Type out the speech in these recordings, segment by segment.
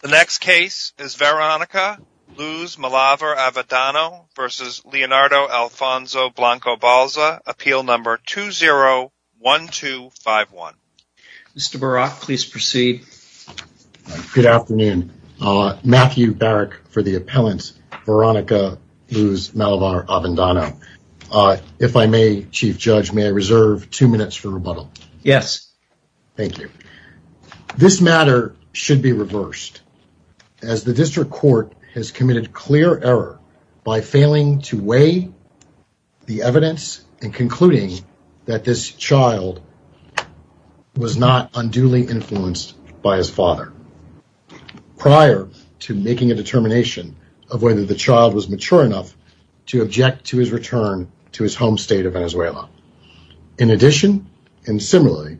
The next case is Veronica Luz Malavar-Avendano v. Leonardo Alfonso Blanco-Balza, appeal number 201251. Mr. Barak, please proceed. Good afternoon, Matthew Barak for the appellant Veronica Luz Malavar-Avendano. If I may, Chief Judge, may I reserve two minutes for rebuttal? Yes. Thank you. This matter should be reversed as the district court has committed clear error by failing to weigh the evidence and concluding that this child was not unduly influenced by his father prior to making a determination of whether the child was mature enough to object to his return to his home state of Venezuela. In addition, and similarly,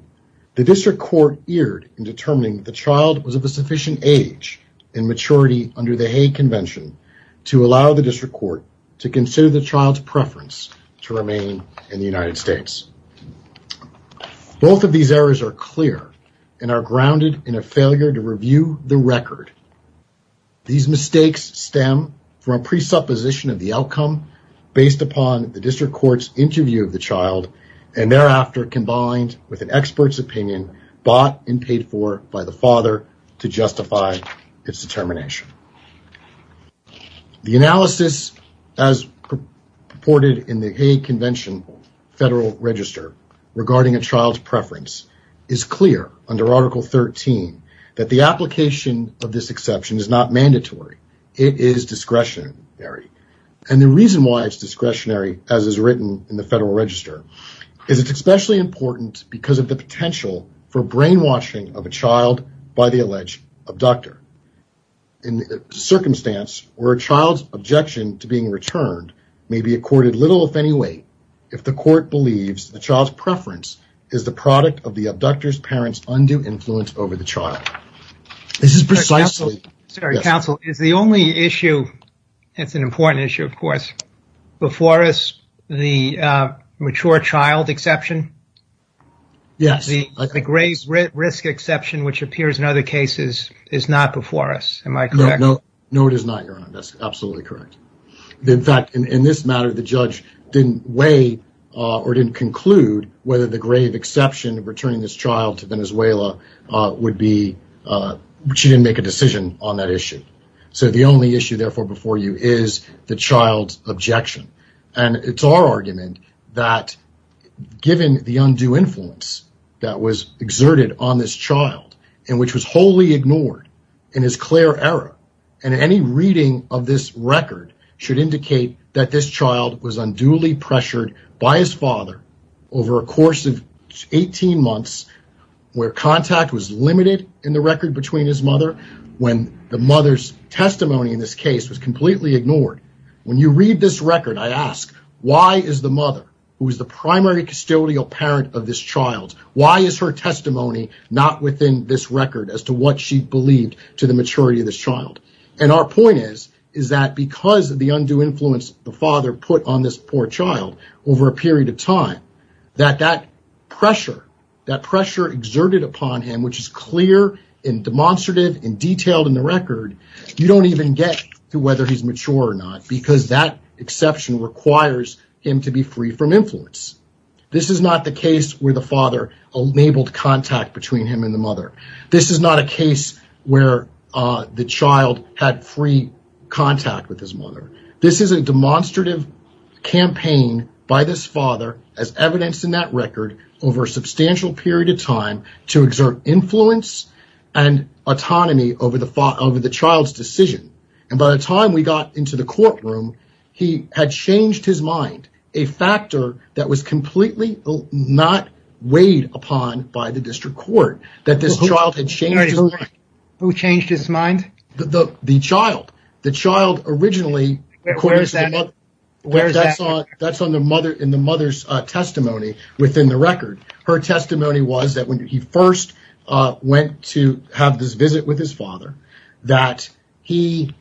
the district court erred in determining the child was of a sufficient age and maturity under the Hague Convention to allow the district court to consider the child's preference to remain in the United States. Both of these errors are clear and are grounded in a failure to review the record. These mistakes stem from a presupposition of the outcome based upon the district court's interview of the child and thereafter combined with an expert's opinion bought and paid for by the father to justify its determination. The analysis as purported in the Hague Convention Federal Register regarding a child's preference is clear under Article 13 that the application of this exception is not mandatory. It is discretionary. The reason why it is discretionary as is written in the Federal Register is that it is especially important because of the potential for brainwashing of a child by the alleged abductor. In a circumstance where a child's objection to being returned may be accorded little if any weight if the court believes the child's preference is the product of the abductor's parent's undue influence over the child. This is precisely... Counsel, is the only issue, it's an important issue of course, before us the mature child exception? Yes. The grave risk exception which appears in other cases is not before us, am I correct? No, it is not, Your Honor, that's absolutely correct. In fact, in this matter, the judge didn't weigh or didn't conclude whether the grave risk exception of returning this child to Venezuela would be... She didn't make a decision on that issue. The only issue therefore before you is the child's objection. It's our argument that given the undue influence that was exerted on this child and which was wholly ignored in his clear error and any reading of this record should indicate that this child was unduly pressured by his father over a course of 18 months where contact was limited in the record between his mother when the mother's testimony in this case was completely ignored. When you read this record, I ask, why is the mother who is the primary custodial parent of this child, why is her testimony not within this record as to what she believed to the maturity of this child? Our point is that because of the undue influence the father put on this poor child over a period of time, that that pressure exerted upon him, which is clear and demonstrative and detailed in the record, you don't even get to whether he's mature or not because that exception requires him to be free from influence. This is not the case where the father enabled contact between him and the mother. This is not a case where the child had free contact with his mother. This is a demonstrative campaign by this father as evidenced in that record over a substantial period of time to exert influence and autonomy over the child's decision. By the time we got into the courtroom, he had changed his mind, a factor that was completely not weighed upon by the district court, that this child had changed his mind. Who changed his mind? The child. The child originally, that's in the mother's testimony within the record. Her testimony was that when he first went to have this visit with his father, that he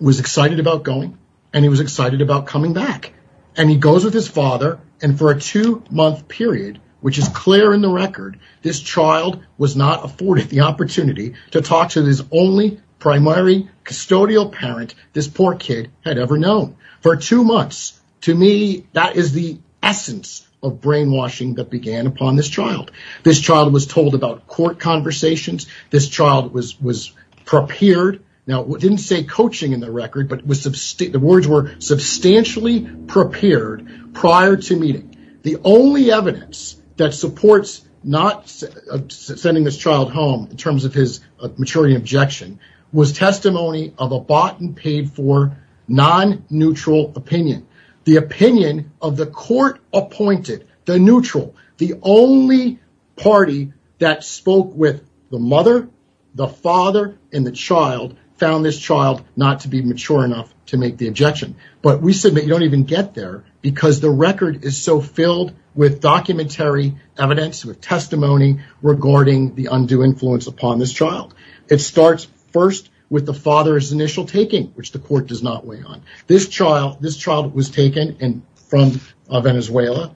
was excited about going and he was excited about coming back. He goes with his father and for a two-month period, which is clear in the record, this child was not afforded the opportunity to talk to his only primary custodial parent this poor kid had ever known. For two months, to me, that is the essence of brainwashing that began upon this child. This child was told about court conversations. This child was prepared. Now, it didn't say coaching in the record, but the words were substantially prepared prior to meeting. The only evidence that supports not sending this child home in terms of his maturity objection was testimony of a bought and paid for non-neutral opinion. The opinion of the court appointed, the neutral, the only party that spoke with the mother, the father, and the child found this child not to be mature enough to make the objection. We said that you don't even get there because the record is so filled with documentary evidence, with testimony regarding the undue influence upon this child. It starts first with the father's initial taking, which the court does not weigh on. This child was taken from Venezuela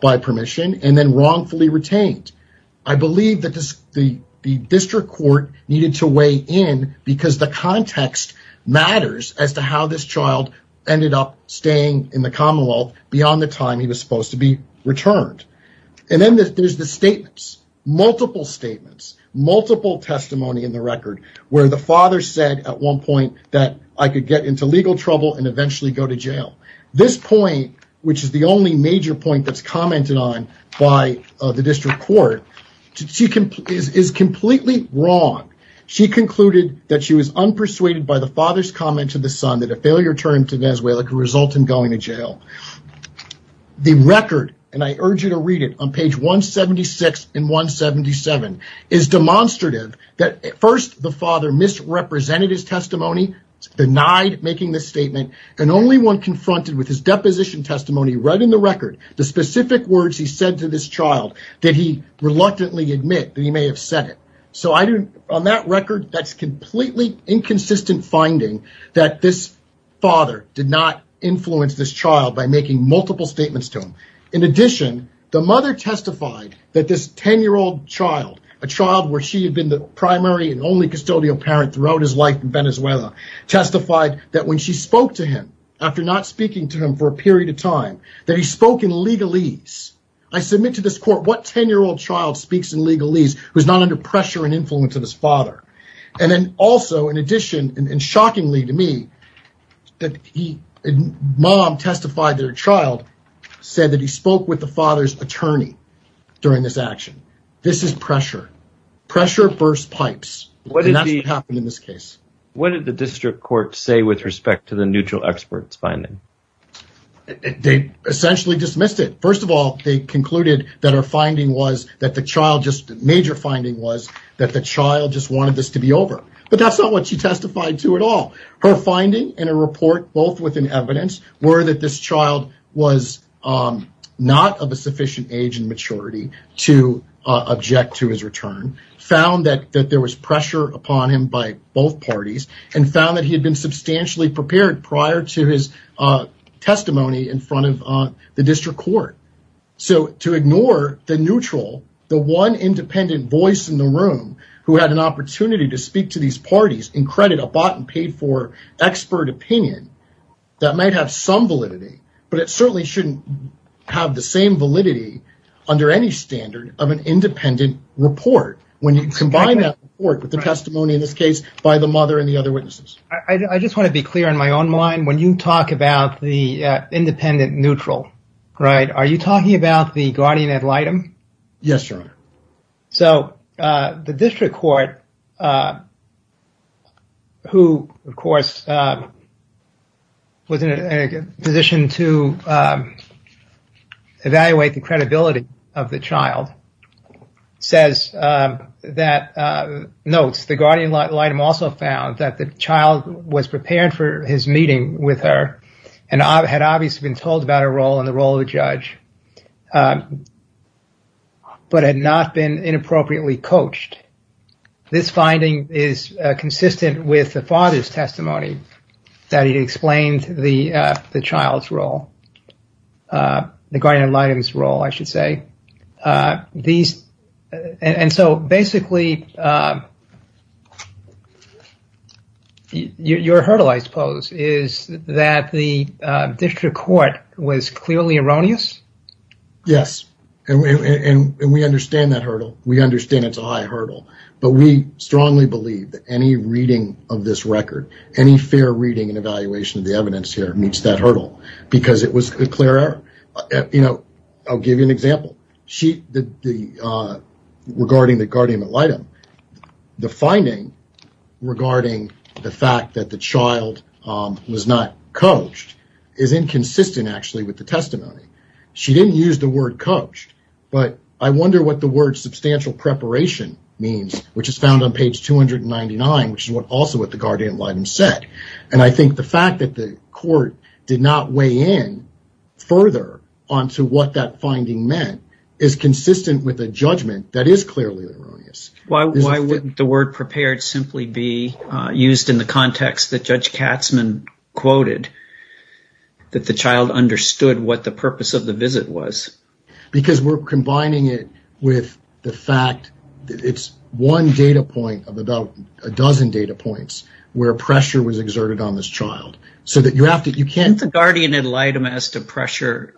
by permission and then wrongfully retained. I believe that the district court needed to weigh in because the context matters as to how this child ended up staying in the Commonwealth beyond the time he was supposed to be returned. Then there's the statements, multiple statements, multiple testimony in the record, where the father said at one point that I could get into legal trouble and eventually go to jail. This point, which is the only major point that's commented on by the district court, is completely wrong. She concluded that she was unpersuaded by the father's comment to the son that a failure term to Venezuela could result in going to jail. The record, and I urge you to read it on page 176 and 177, is demonstrative that first the father misrepresented his testimony, denied making this statement, and only one confronted with his deposition testimony read in the record the specific words he said to this child that he reluctantly admit that he may have said it. On that record, that's a completely inconsistent finding that this father did not influence this child by making multiple statements to him. In addition, the mother testified that this 10-year-old child, a child where she had been the primary and only custodial parent throughout his life in Venezuela, testified that when she spoke to him, after not speaking to him for a period of time, that he spoke in legalese. I submit to this court what 10-year-old child speaks in legalese who's not under pressure and influence of his father? And then also, in addition, and shockingly to me, the mom testified that her child said that he spoke with the father's attorney during this action. This is pressure. Pressure bursts pipes. And that's what happened in this case. What did the district court say with respect to the neutral expert's finding? They essentially dismissed it. First of all, they concluded that the major finding was that the child just wanted this to be over. But that's not what she testified to at all. Her finding in her report, both within evidence, were that this child was not of a sufficient age and maturity to object to his return, found that there was pressure upon him by both parties, and found that he had been substantially prepared prior to his testimony in front of the district court. So to ignore the neutral, the one independent voice in the room who had an opportunity to speak to these parties, in credit, a bottom paid for expert opinion, that might have some validity, but it certainly shouldn't have the same validity under any standard of an independent report. When you combine that report with the testimony in this case by the mother and the other witnesses. I just want to be clear in my own mind. When you talk about the independent neutral, right, are you talking about the guardian ad litem? Yes, sir. So the district court, who, of course, was in a position to evaluate the credibility of the child, says that, notes, the guardian ad litem also found that the child was prepared for his meeting with her and had obviously been told about her role and the role of a judge, but had not been inappropriately coached. This finding is consistent with the father's testimony that he explained the child's role, the guardian ad litem's role, I should say. And so, basically, your hurdle, I suppose, is that the district court was clearly erroneous? Yes, and we understand that hurdle. We understand it's a high hurdle, but we strongly believe that any reading of this record, any fair reading and evaluation of the evidence here meets that hurdle because it was a clear error. I'll give you an example regarding the guardian ad litem. The finding regarding the fact that the child was not coached is inconsistent, actually, with the testimony. She didn't use the word coached, but I wonder what the word substantial preparation means, which is found on page 299, which is also what the guardian ad litem said. And I think the fact that the court did not weigh in further onto what that finding meant is consistent with a judgment that is clearly erroneous. Why wouldn't the word prepared simply be used in the context that Judge Katzman quoted, that the child understood what the purpose of the visit was? Because we're combining it with the fact that it's one data point of about a dozen data points where pressure was exerted on this child. Can't the guardian ad litem as to pressure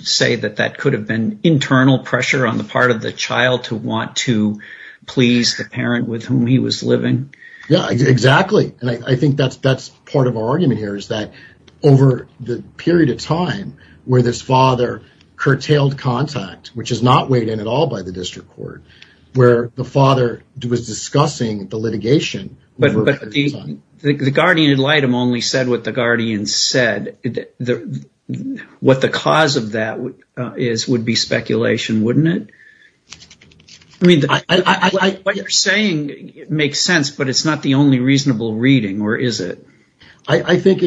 say that that could have been internal pressure on the part of the child to want to please the parent with whom he was living? Yeah, exactly, and I think that's part of our argument here, is that over the period of time where this father curtailed contact, which is not weighed in at all by the district court, where the father was discussing the litigation. But the guardian ad litem only said what the guardian said. What the cause of that is would be speculation, wouldn't it? I mean, what you're saying makes sense, but it's not the only reasonable reading, or is it? I think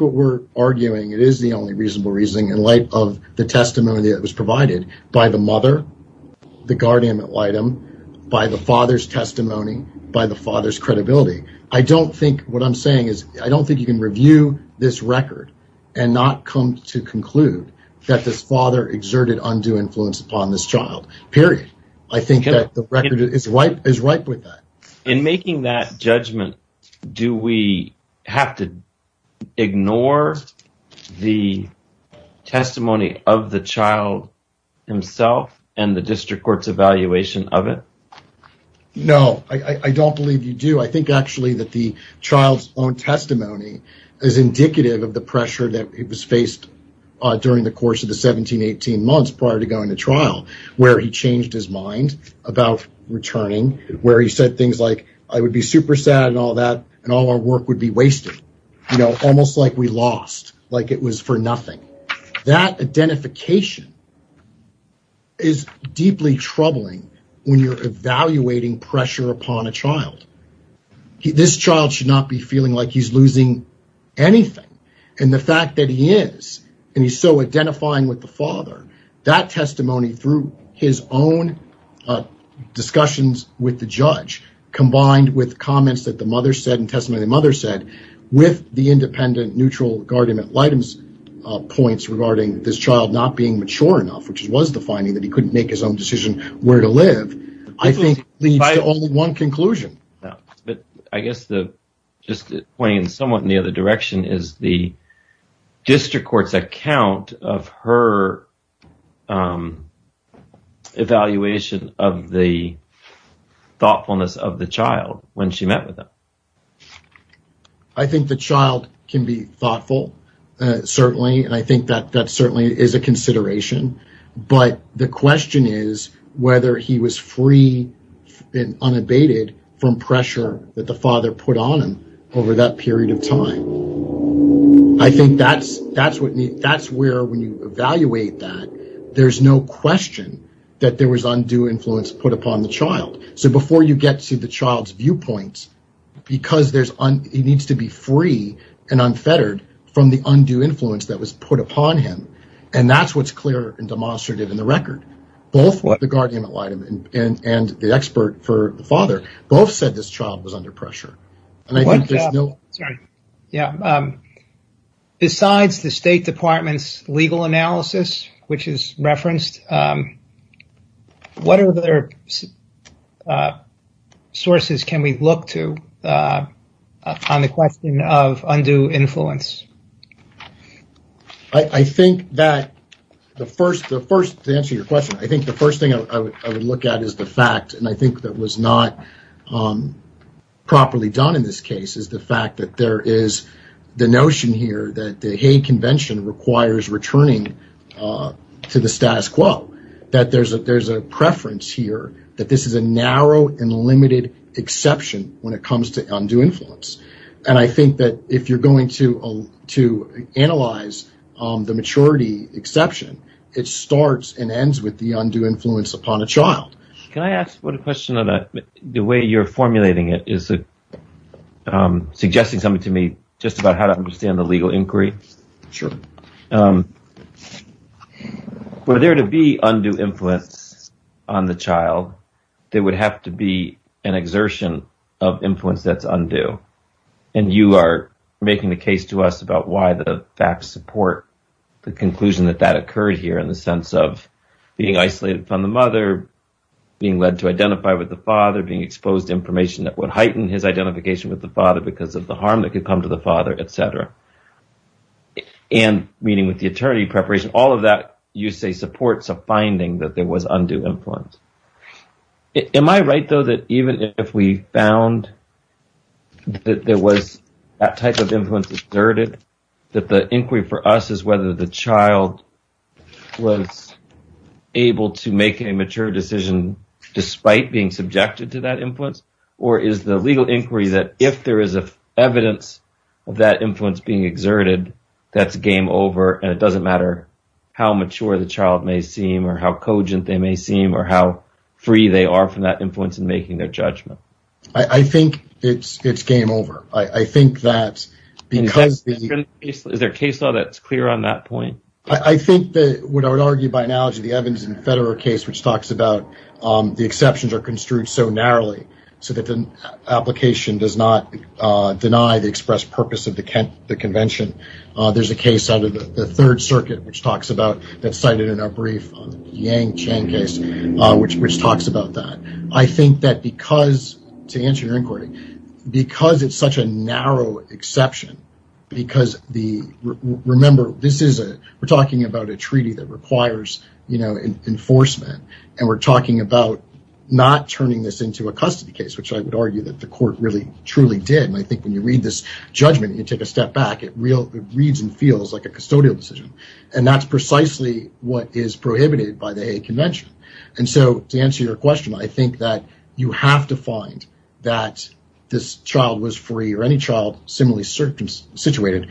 what we're arguing, it is the only reasonable reasoning in light of the testimony that was provided by the mother, the guardian ad litem, by the father's testimony, by the father's credibility. I don't think what I'm saying is I don't think you can review this record and not come to conclude that this father exerted undue influence upon this child, period. I think that the record is ripe with that. In making that judgment, do we have to ignore the testimony of the child himself and the district court's evaluation of it? No, I don't believe you do. I think actually that the child's own testimony is indicative of the pressure that was faced during the course of the 17, 18 months prior to going to trial, where he changed his mind about returning, where he said things like, I would be super sad and all that, and all our work would be wasted, almost like we lost, like it was for nothing. That identification is deeply troubling when you're evaluating pressure upon a child. This child should not be feeling like he's losing anything. And the fact that he is, and he's so identifying with the father, that testimony through his own discussions with the judge, combined with comments that the mother said and testimony that the mother said, with the independent neutral guardianship points regarding this child not being mature enough, which was the finding that he couldn't make his own decision where to live, I think leads to only one conclusion. I guess just pointing somewhat in the other direction is the district court's account of her evaluation of the thoughtfulness of the child when she met with him. I think the child can be thoughtful, certainly, and I think that that certainly is a consideration. But the question is whether he was free and unabated from pressure that the father put on him over that period of time. I think that's where when you evaluate that, there's no question that there was undue influence put upon the child. So before you get to the child's viewpoint, because he needs to be free and unfettered from the undue influence that was put upon him. And that's what's clear and demonstrated in the record. Both the guardian and the expert for the father both said this child was under pressure. Besides the State Department's legal analysis, which is referenced, what other sources can we look to on the question of undue influence? I think that the first answer to your question, I think the first thing I would look at is the fact, and I think that was not properly done in this case, is the fact that there is the notion here that the Hague Convention requires returning to the status quo. That there's a preference here that this is a narrow and limited exception when it comes to undue influence. And I think that if you're going to analyze the maturity exception, it starts and ends with the undue influence upon a child. Can I ask a question on that? The way you're formulating it is suggesting something to me, just about how to understand the legal inquiry. Sure. Were there to be undue influence on the child, there would have to be an exertion of influence that's undue. And you are making the case to us about why the facts support the conclusion that that occurred here, in the sense of being isolated from the mother, being led to identify with the father, being exposed to information that would heighten his identification with the father because of the harm that could come to the father, et cetera. And meeting with the attorney preparation, all of that you say supports a finding that there was undue influence. Am I right, though, that even if we found that there was that type of influence exerted, that the inquiry for us is whether the child was able to make a mature decision despite being subjected to that influence, or is the legal inquiry that if there is evidence of that influence being exerted, that's game over and it doesn't matter how mature the child may seem or how cogent they may seem or how free they are from that influence in making their judgment? I think it's game over. I think that because the… Is there a case law that's clear on that point? I think that what I would argue by analogy, the Evans and Federer case, which talks about the exceptions are construed so narrowly so that the application does not deny the express purpose of the convention. There's a case out of the Third Circuit, which talks about that cited in our brief on the Yang Chang case, which talks about that. I think that because, to answer your inquiry, because it's such a narrow exception, because the… Remember, this is a… We're talking about a treaty that requires, you know, enforcement. And we're talking about not turning this into a custody case, which I would argue that the court really, truly did. And I think when you read this judgment, you take a step back, it reads and feels like a custodial decision. And that's precisely what is prohibited by the convention. And so, to answer your question, I think that you have to find that this child was free or any child similarly situated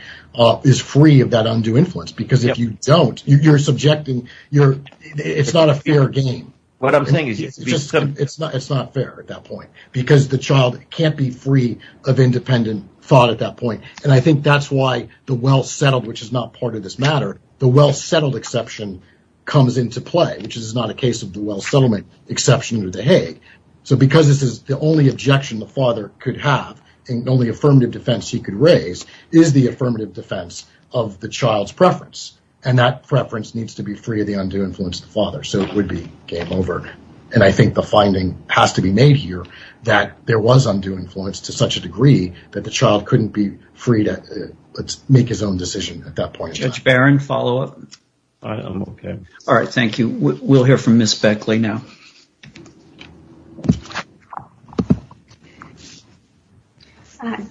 is free of that undue influence. Because if you don't, you're subjecting… It's not a fair game. What I'm saying is… It's not fair at that point. Because the child can't be free of independent thought at that point. And I think that's why the well-settled, which is not part of this matter, the well-settled exception comes into play, which is not a case of the well-settlement exception of the Hague. So, because this is the only objection the father could have and the only affirmative defense he could raise is the affirmative defense of the child's preference. And that preference needs to be free of the undue influence of the father. So, it would be game over. And I think the finding has to be made here that there was undue influence to such a degree that the child couldn't be free to make his own decision at that point in time. Judge Barron, follow-up? I'm okay. All right, thank you. We'll hear from Ms. Beckley now.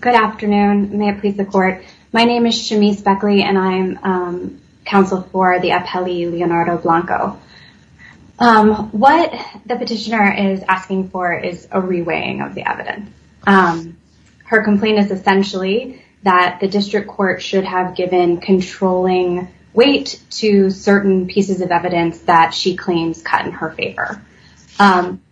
Good afternoon. May it please the court. My name is Shamice Beckley, and I'm counsel for the appellee, Leonardo Blanco. What the petitioner is asking for is a reweighing of the evidence. Her complaint is essentially that the district court should have given controlling weight to certain pieces of evidence that she claims cut in her favor.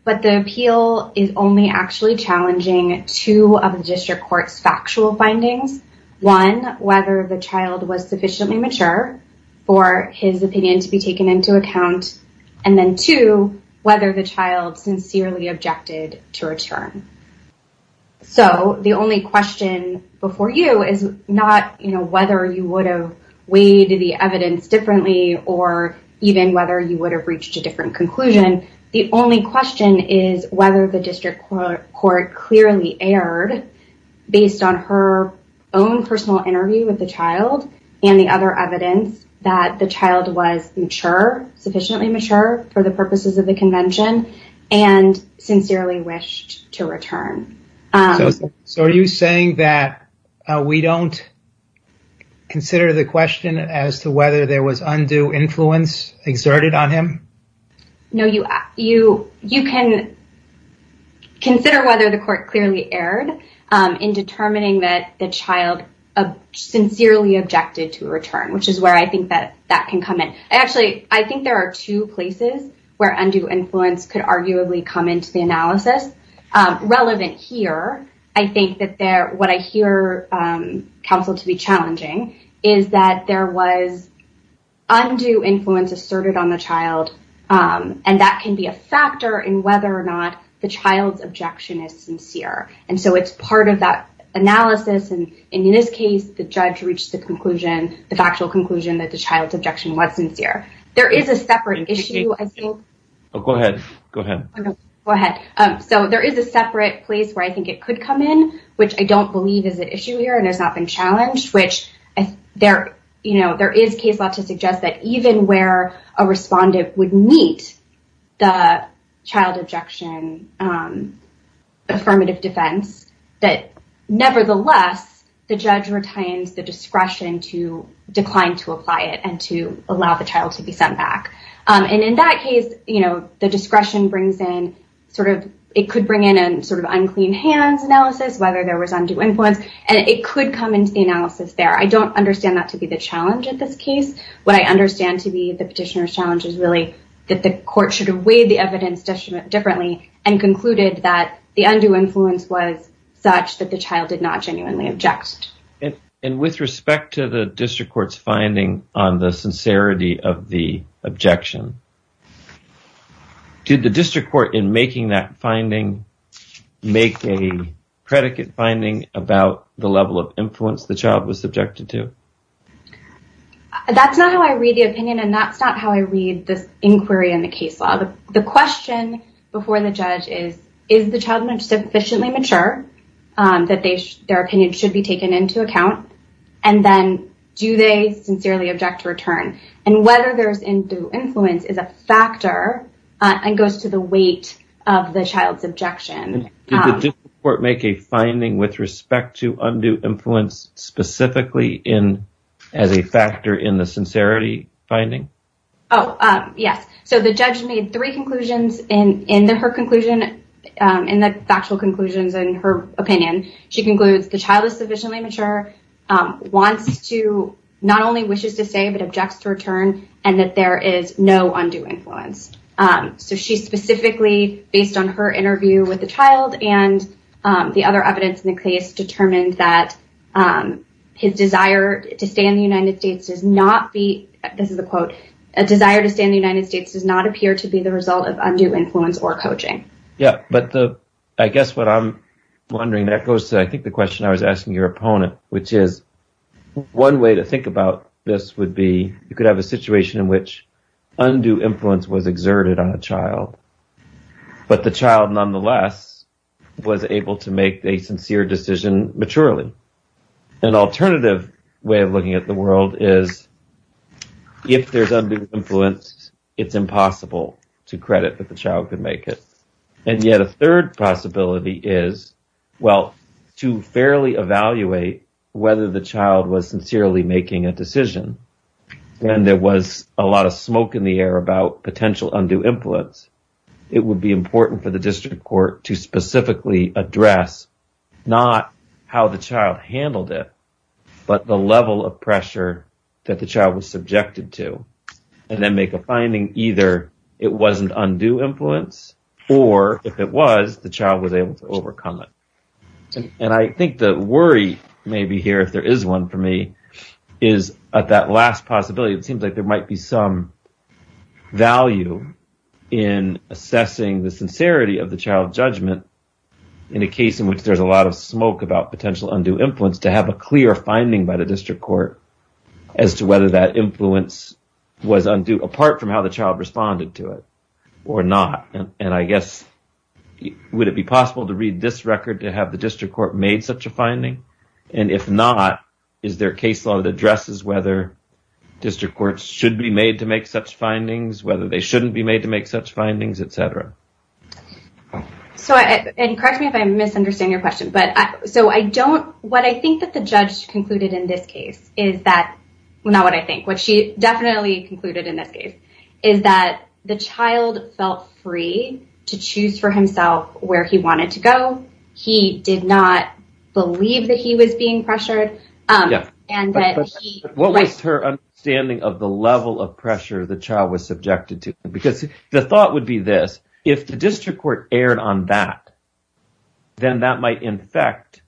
But the appeal is only actually challenging two of the district court's factual findings. One, whether the child was sufficiently mature for his opinion to be taken into account. And then, two, whether the child sincerely objected to return. So, the only question before you is not whether you would have weighed the evidence differently or even whether you would have reached a different conclusion. The only question is whether the district court clearly erred based on her own personal interview with the child and the other evidence that the child was mature, sufficiently mature, for the purposes of the convention and sincerely wished to return. So, are you saying that we don't consider the question as to whether there was undue influence exerted on him? No, you can consider whether the court clearly erred in determining that the child sincerely objected to return, which is where I think that that can come in. Actually, I think there are two places where undue influence could arguably come into the analysis. Relevant here, I think that what I hear counsel to be challenging is that there was undue influence asserted on the child, and that can be a factor in whether or not the child's objection is sincere. And so, it's part of that analysis. And in this case, the judge reached the conclusion, the factual conclusion, that the child's objection was sincere. There is a separate issue, I think. Go ahead. Go ahead. So, there is a separate place where I think it could come in, which I don't believe is an issue here and has not been challenged, which there is case law to suggest that even where a respondent would meet the child objection affirmative defense, that nevertheless, the judge retains the discretion to decline to apply it and to allow the child to be sent back. And in that case, the discretion brings in, it could bring in an unclean hands analysis, whether there was undue influence, and it could come into the analysis there. I don't understand that to be the challenge in this case. What I understand to be the petitioner's challenge is really that the court should have weighed the evidence differently and concluded that the undue influence was such that the child did not genuinely object. And with respect to the district court's finding on the sincerity of the objection, did the district court in making that finding make a predicate finding about the level of influence the child was subjected to? That's not how I read the opinion, and that's not how I read this inquiry in the case law. The question before the judge is, is the child sufficiently mature that their opinion should be taken into account? And then, do they sincerely object to return? And whether there's undue influence is a factor and goes to the weight of the child's objection. Did the district court make a finding with respect to undue influence specifically as a factor in the sincerity finding? Oh, yes. So the judge made three conclusions in her conclusion and the factual conclusions in her opinion. She concludes the child is sufficiently mature, wants to not only wishes to say, but objects to return and that there is no undue influence. So she specifically, based on her interview with the child and the other evidence in the case, determined that his desire to stay in the United States does not be. This is a quote. A desire to stay in the United States does not appear to be the result of undue influence or coaching. Yeah. But I guess what I'm wondering, that goes to, I think, the question I was asking your opponent, which is one way to think about this would be you could have a situation in which undue influence was exerted. A child. But the child, nonetheless, was able to make a sincere decision. Maturely, an alternative way of looking at the world is if there's undue influence, it's impossible to credit that the child could make it. And yet a third possibility is, well, to fairly evaluate whether the child was sincerely making a decision. And there was a lot of smoke in the air about potential undue influence. It would be important for the district court to specifically address not how the child handled it, but the level of pressure that the child was subjected to and then make a finding. Either it wasn't undue influence or if it was, the child was able to overcome it. And I think the worry may be here, if there is one for me, is at that last possibility, it seems like there might be some value in assessing the sincerity of the child judgment in a case in which there's a lot of smoke about potential undue influence to have a clear finding by the district court as to whether that influence was undue apart from how the child responded to it or not. And I guess, would it be possible to read this record to have the district court made such a finding? And if not, is there a case law that addresses whether district courts should be made to make such findings, whether they shouldn't be made to make such findings, etc.? So, and correct me if I'm misunderstanding your question, but so I don't, what I think that the judge concluded in this case is that, well, not what I think, what she definitely concluded in this case is that the child felt free to choose for himself where he wanted to go. He did not believe that he was being pressured. What was her understanding of the level of pressure the child was subjected to? Because the thought would be this. If the district court erred on that. Then that might infect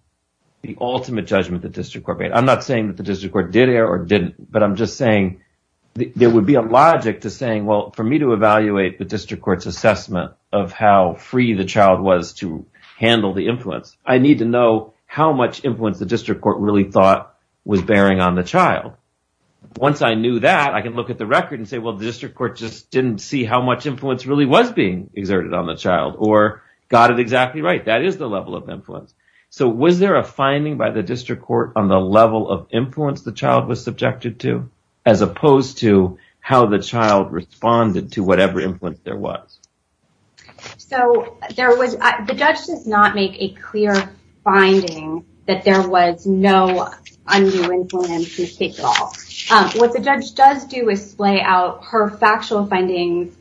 the ultimate judgment the district court made. I'm not saying that the district court did or didn't, but I'm just saying there would be a logic to saying, well, for me to evaluate the district court's assessment of how free the child was to handle the influence, I need to know how much influence the district court really thought was bearing on the child. Once I knew that I can look at the record and say, well, the district court just didn't see how much influence really was being exerted on the child or got it exactly right. That is the level of influence. So was there a finding by the district court on the level of influence the child was subjected to as opposed to how the child responded to whatever influence there was? So there was the judge does not make a clear finding that there was no undue influence at all. What the judge does do is lay out her factual findings,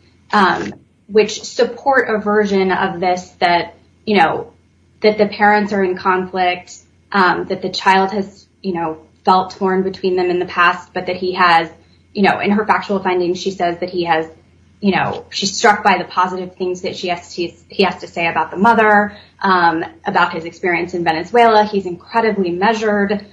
which support a version of this that, you know, that the parents are in conflict, that the child has, you know, felt torn between them in the past, but that he has, you know, in her factual findings, she says that he has, you know, she's struck by the positive things that she has to say about the mother, about his experience in Venezuela. He's incredibly measured.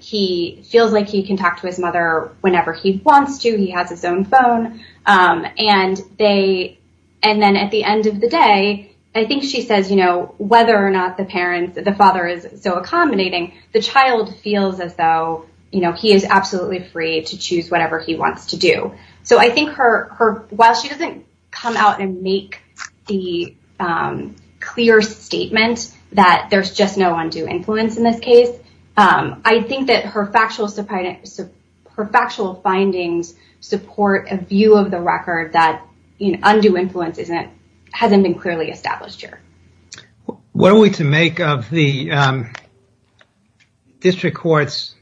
He feels like he can talk to his mother whenever he wants to. He has his own phone. And they and then at the end of the day, I think she says, you know, whether or not the parents, the father is so accommodating, the child feels as though, you know, he is absolutely free to choose whatever he wants to do. So I think her while she doesn't come out and make the clear statement that there's just no undue influence in this case, I think that her factual findings support a view of the record that undue influence isn't hasn't been clearly established here. What are we to make of the district court's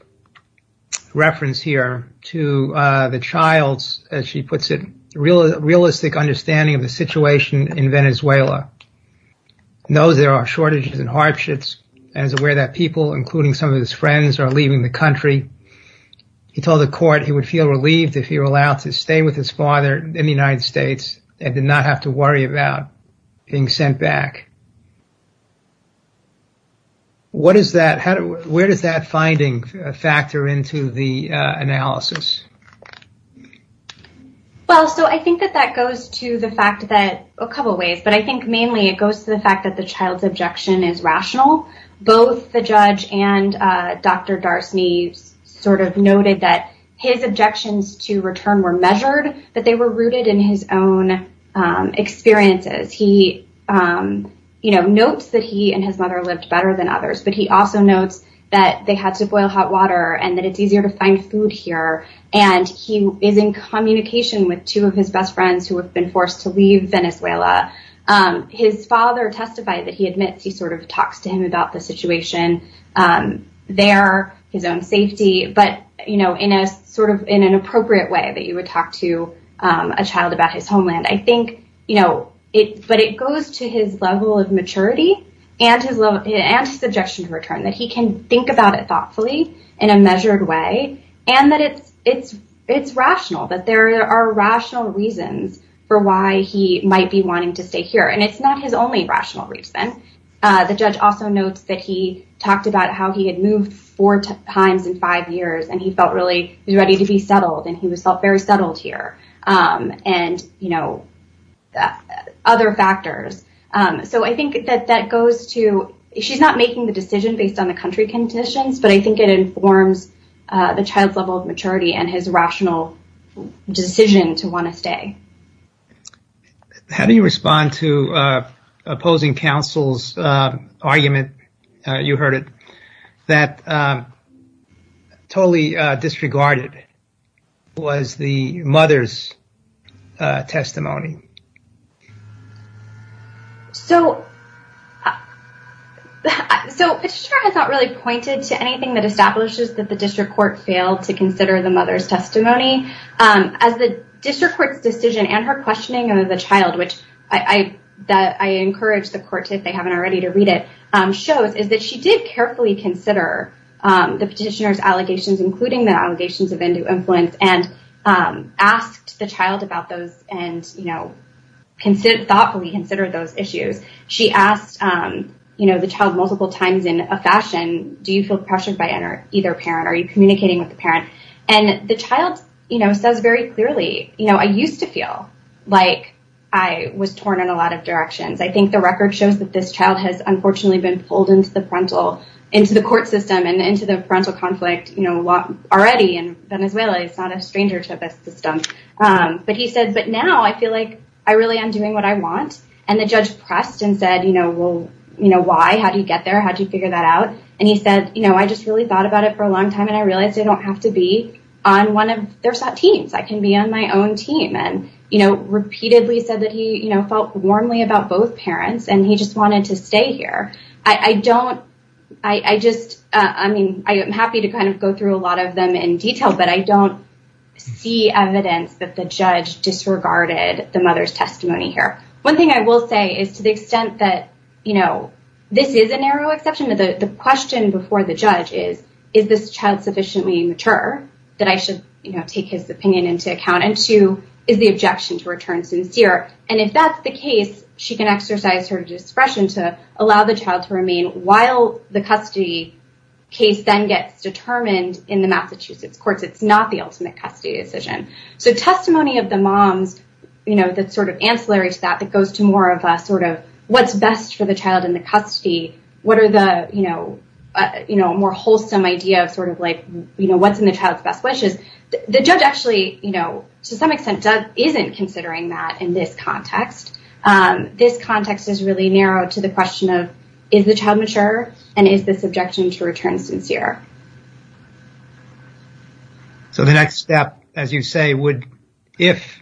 reference here to the child's, as she puts it, realistic understanding of the situation in Venezuela knows there are shortages and hardships and is aware that people, including some of his friends are leaving the country. He told the court he would feel relieved if he were allowed to stay with his father in the United States and did not have to worry about being sent back. What is that? Where does that finding factor into the analysis? Well, so I think that that goes to the fact that a couple of ways, but I think mainly it goes to the fact that the child's objection is rational. Both the judge and Dr. Darcy sort of noted that his objections to return were measured, but they were rooted in his own experiences. He notes that he and his mother lived better than others, but he also notes that they had to boil hot water and that it's easier to find food here. And he is in communication with two of his best friends who have been forced to leave Venezuela. His father testified that he admits he sort of talks to him about the situation there, his own safety, but in a sort of in an appropriate way that you would talk to a child about his homeland. I think, you know, it but it goes to his level of maturity and his love and his objection to return that he can think about it thoughtfully in a measured way. And that it's it's it's rational that there are rational reasons for why he might be wanting to stay here. And it's not his only rational reason. The judge also notes that he talked about how he had moved four times in five years and he felt really ready to be settled. And he was very settled here. And, you know, other factors. So I think that that goes to she's not making the decision based on the country conditions, but I think it informs the child's level of maturity and his rational decision to want to stay. How do you respond to opposing counsel's argument? You heard it that. Totally disregarded was the mother's testimony. So. So it's not really pointed to anything that establishes that the district court failed to consider the mother's testimony. As the district court's decision and her questioning of the child, which I that I encourage the courts, if they haven't already to read it shows, is that she did carefully consider the petitioner's allegations, including the allegations of Hindu influence, and asked the child about those and, you know, consider thoughtfully consider those issues. She asked, you know, the child multiple times in a fashion. Do you feel pressured by either parent? Are you communicating with the parent? And the child says very clearly, you know, I used to feel like I was torn in a lot of directions. I think the record shows that this child has unfortunately been pulled into the parental into the court system and into the parental conflict already. And Venezuela is not a stranger to this system. But he said, but now I feel like I really am doing what I want. And the judge pressed and said, you know, well, you know, why? How do you get there? How do you figure that out? And he said, you know, I just really thought about it for a long time. And I realized I don't have to be on one of their teams. I can be on my own team. And, you know, repeatedly said that he felt warmly about both parents and he just wanted to stay here. I don't I just I mean, I am happy to kind of go through a lot of them in detail, but I don't see evidence that the judge disregarded the mother's testimony here. One thing I will say is to the extent that, you know, this is a narrow exception to the question before the judge is, is this child sufficiently mature that I should take his opinion into account? And two, is the objection to return sincere? And if that's the case, she can exercise her discretion to allow the child to remain while the custody case then gets determined in the Massachusetts courts. It's not the ultimate custody decision. So testimony of the moms, you know, that sort of ancillary to that, that goes to more of a sort of what's best for the child in the custody. What are the, you know, you know, more wholesome idea of sort of like, you know, what's in the child's best wishes? The judge actually, you know, to some extent isn't considering that in this context. This context is really narrow to the question of is the child mature and is this objection to return sincere? So the next step, as you say, would if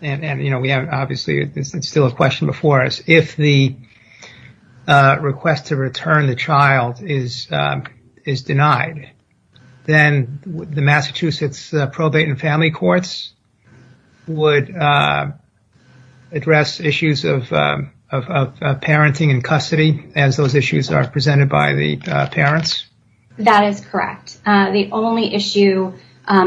and, you know, we have obviously it's still a question before us. If the request to return the child is denied, then the Massachusetts probate and family courts would address issues of parenting and custody as those issues are presented by the parents. That is correct. The only issue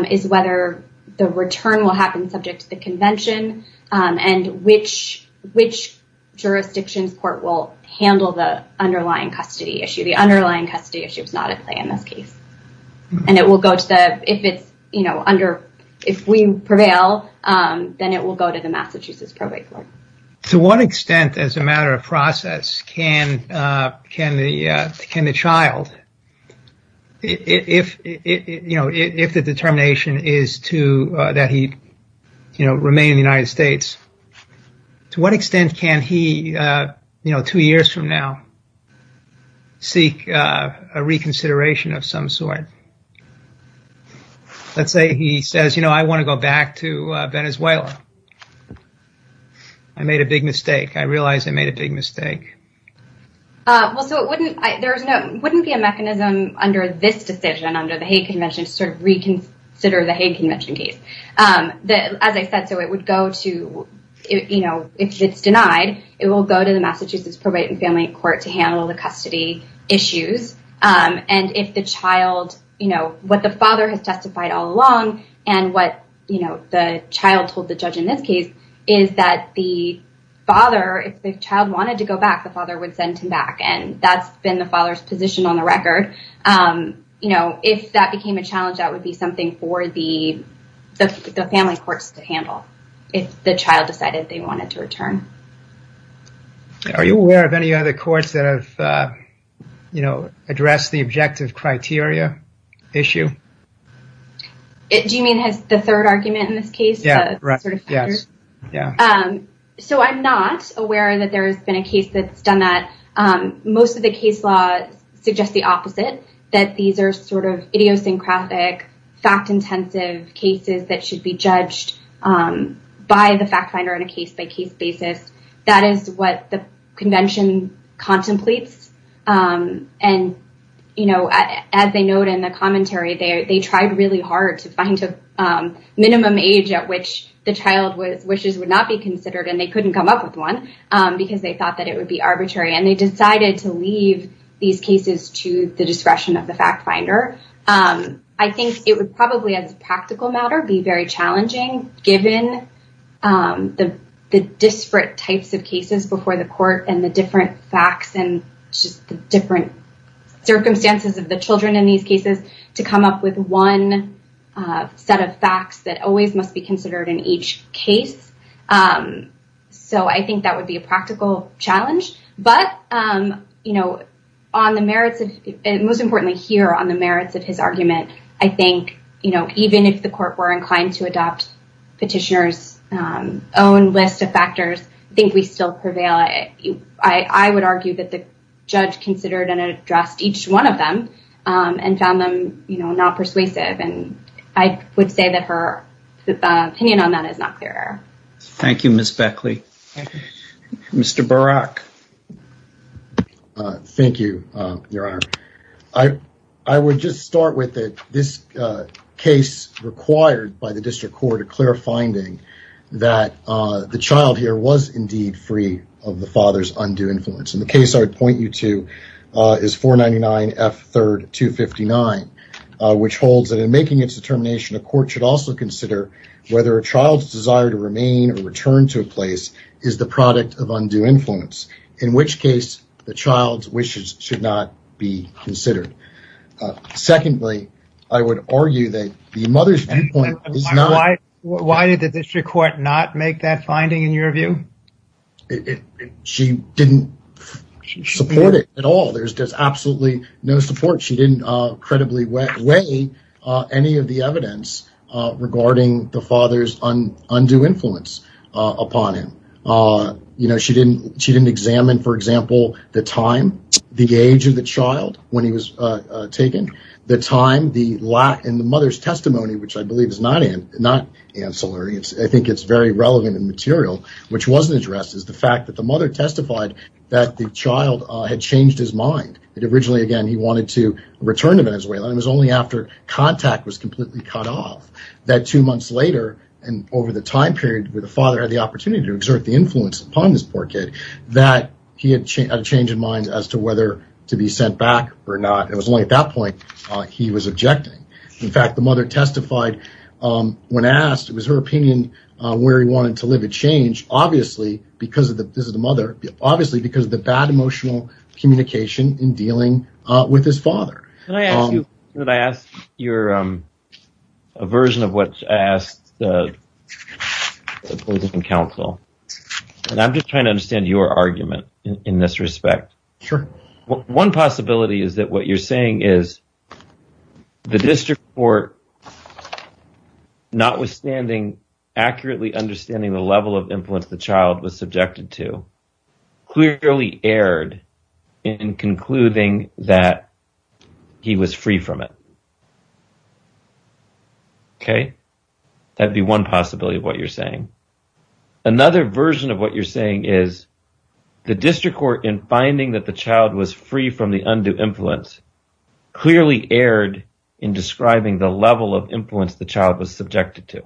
is whether the return will happen subject to the convention and which which jurisdictions court will handle the underlying custody issue. The underlying custody issue is not at play in this case. And it will go to the if it's, you know, under if we prevail, then it will go to the Massachusetts probate court. To what extent, as a matter of process, can can the can the child if, you know, if the determination is to that he, you know, remain in the United States? To what extent can he, you know, two years from now? Seek a reconsideration of some sort. Let's say he says, you know, I want to go back to Venezuela. I made a big mistake. I realize I made a big mistake. Well, so it wouldn't there's no wouldn't be a mechanism under this decision under the convention to reconsider the convention case that, as I said, so it would go to, you know, if it's denied, it will go to the Massachusetts probate and family court to handle the custody issues. And if the child, you know what the father has testified all along and what, you know, the child told the judge in this case is that the father, if the child wanted to go back, the father would send him back. And that's been the father's position on the record. You know, if that became a challenge, that would be something for the family courts to handle. If the child decided they wanted to return. Are you aware of any other courts that have, you know, address the objective criteria issue? Do you mean the third argument in this case? Yeah, right. Yes. Yeah. So I'm not aware that there has been a case that's done that. Most of the case law suggests the opposite, that these are sort of idiosyncratic, fact intensive cases that should be judged by the fact finder in a case by case basis. That is what the convention contemplates. And, you know, as they note in the commentary there, they tried really hard to find a minimum age at which the child wishes would not be considered. And they couldn't come up with one because they thought that it would be arbitrary. And they decided to leave these cases to the discretion of the fact finder. I think it would probably, as a practical matter, be very challenging given the disparate types of cases before the court and the different facts and just the different circumstances of the children in these cases to come up with one set of facts that always must be considered in each case. So I think that would be a practical challenge. But, you know, on the merits, most importantly here on the merits of his argument, I think, you know, even if the court were inclined to adopt petitioners own list of factors, I think we still prevail. I would argue that the judge considered and addressed each one of them and found them, you know, not persuasive. And I would say that her opinion on that is not clear. Thank you, Miss Beckley. Mr. Barak. Thank you, Your Honor. I, I would just start with it. This case required by the district court a clear finding that the child here was indeed free of the father's undue influence. And the case I would point you to is 499F3259, which holds that in making its determination, a court should also consider whether a child's desire to remain or return to a place is the product of undue influence, in which case the child's wishes should not be considered. Secondly, I would argue that the mother's viewpoint is not. Why did the district court not make that finding in your view? She didn't support it at all. There's just absolutely no support. She didn't credibly weigh any of the evidence regarding the father's undue influence upon him. You know, she didn't, she didn't examine, for example, the time, the age of the child when he was taken, the time, the lack in the mother's testimony, which I believe is not, not ancillary. I think it's very relevant and material, which wasn't addressed is the fact that the mother testified that the child had changed his mind. Originally, again, he wanted to return to Venezuela. It was only after contact was completely cut off that two months later, and over the time period where the father had the opportunity to exert the influence upon this poor kid, that he had a change of mind as to whether to be sent back or not. It was only at that point he was objecting. In fact, the mother testified when asked, it was her opinion, where he wanted to live had changed, obviously because of the, this is the mother, obviously because of the bad emotional communication in dealing with his father. Could I ask you, could I ask your, a version of what I asked the opposing counsel, and I'm just trying to understand your argument in this respect. Sure. One possibility is that what you're saying is the district court, notwithstanding accurately understanding the level of influence the child was subjected to clearly erred in concluding that he was free from it. Okay. That'd be one possibility of what you're saying. Another version of what you're saying is the district court in finding that the child was free from the undue influence clearly erred in describing the level of influence the child was subjected to.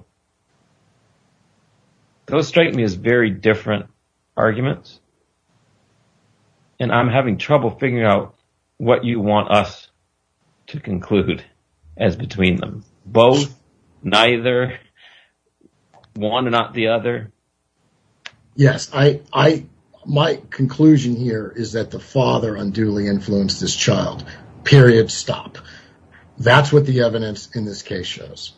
Those strike me as very different arguments. And I'm having trouble figuring out what you want us to conclude as between them, both, neither, one and not the other. Yes, I, I, my conclusion here is that the father unduly influenced this child, period, stop. That's what the evidence in this case shows.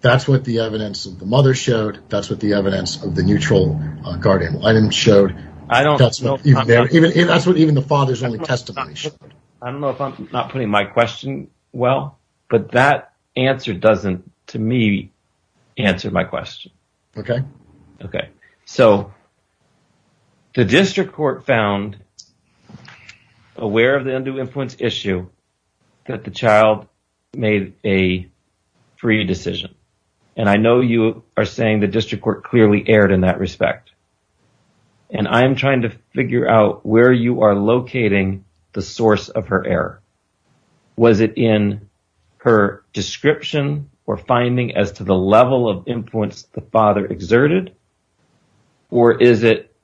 That's what the evidence of the mother showed. That's what the evidence of the neutral guardian item showed. I don't know. That's what even the father's only testimony. I don't know if I'm not putting my question well, but that answer doesn't, to me, answer my question. Okay. Okay. So the district court found aware of the undue influence issue that the child made a free decision. And I know you are saying the district court clearly erred in that respect. And I'm trying to figure out where you are locating the source of her error. Was it in her description or finding as to the level of influence the father exerted? Or is it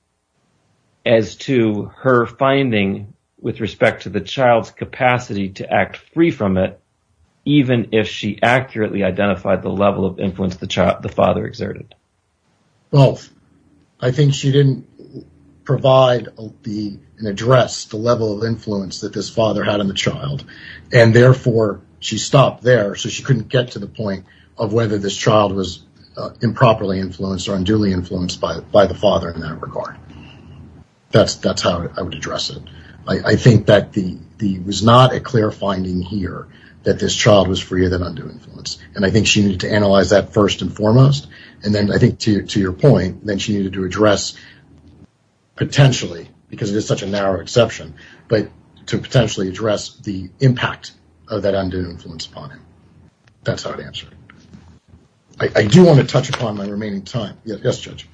as to her finding with respect to the child's capacity to act free from it, even if she accurately identified the level of influence the child, the father exerted? Both. I think she didn't provide and address the level of influence that this father had on the child. And therefore, she stopped there. So she couldn't get to the point of whether this child was improperly influenced or unduly influenced by the father in that regard. That's how I would address it. I think that there was not a clear finding here that this child was free of an undue influence. And I think she needed to analyze that first and foremost. And then I think to your point, then she needed to address, potentially, because it is such a narrow exception, but to potentially address the impact of that undue influence upon him. That's how I'd answer it. I do want to touch upon my remaining time. Yes, Judge.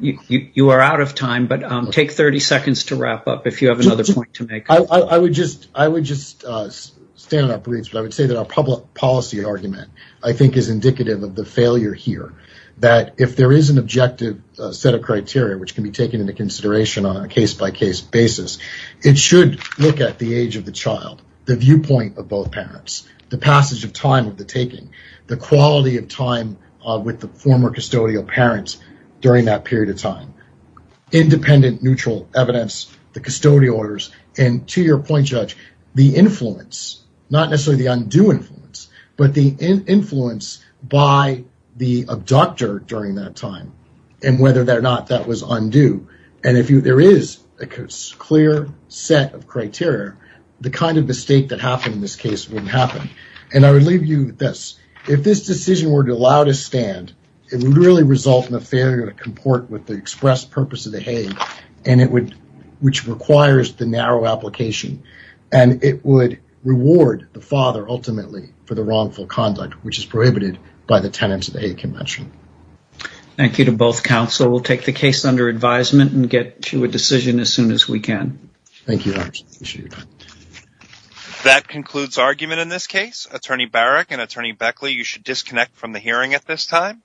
You are out of time, but take 30 seconds to wrap up if you have another point to make. I would just stand up, please, but I would say that our public policy argument, I think, is indicative of the failure here. That if there is an objective set of criteria, which can be taken into consideration on a case-by-case basis, it should look at the age of the child, the viewpoint of both parents, the passage of time of the taking, the quality of time with the former custodial parents during that period of time, independent neutral evidence, the custodial orders, and to your point, Judge, the influence, not necessarily the undue influence, but the influence by the abductor during that time and whether or not that was undue. And if there is a clear set of criteria, the kind of mistake that happened in this case wouldn't happen. And I would leave you with this. If this decision were to allow to stand, it would really result in a failure to comport with the express purpose of the Hague, which requires the narrow application, and it would reward the father ultimately for the wrongful conduct, which is prohibited by the tenets of the Hague Convention. Thank you to both counsel. We'll take the case under advisement and get to a decision as soon as we can. Thank you, Your Honor. That concludes argument in this case. Attorney Barak and Attorney Beckley, you should disconnect from the hearing at this time.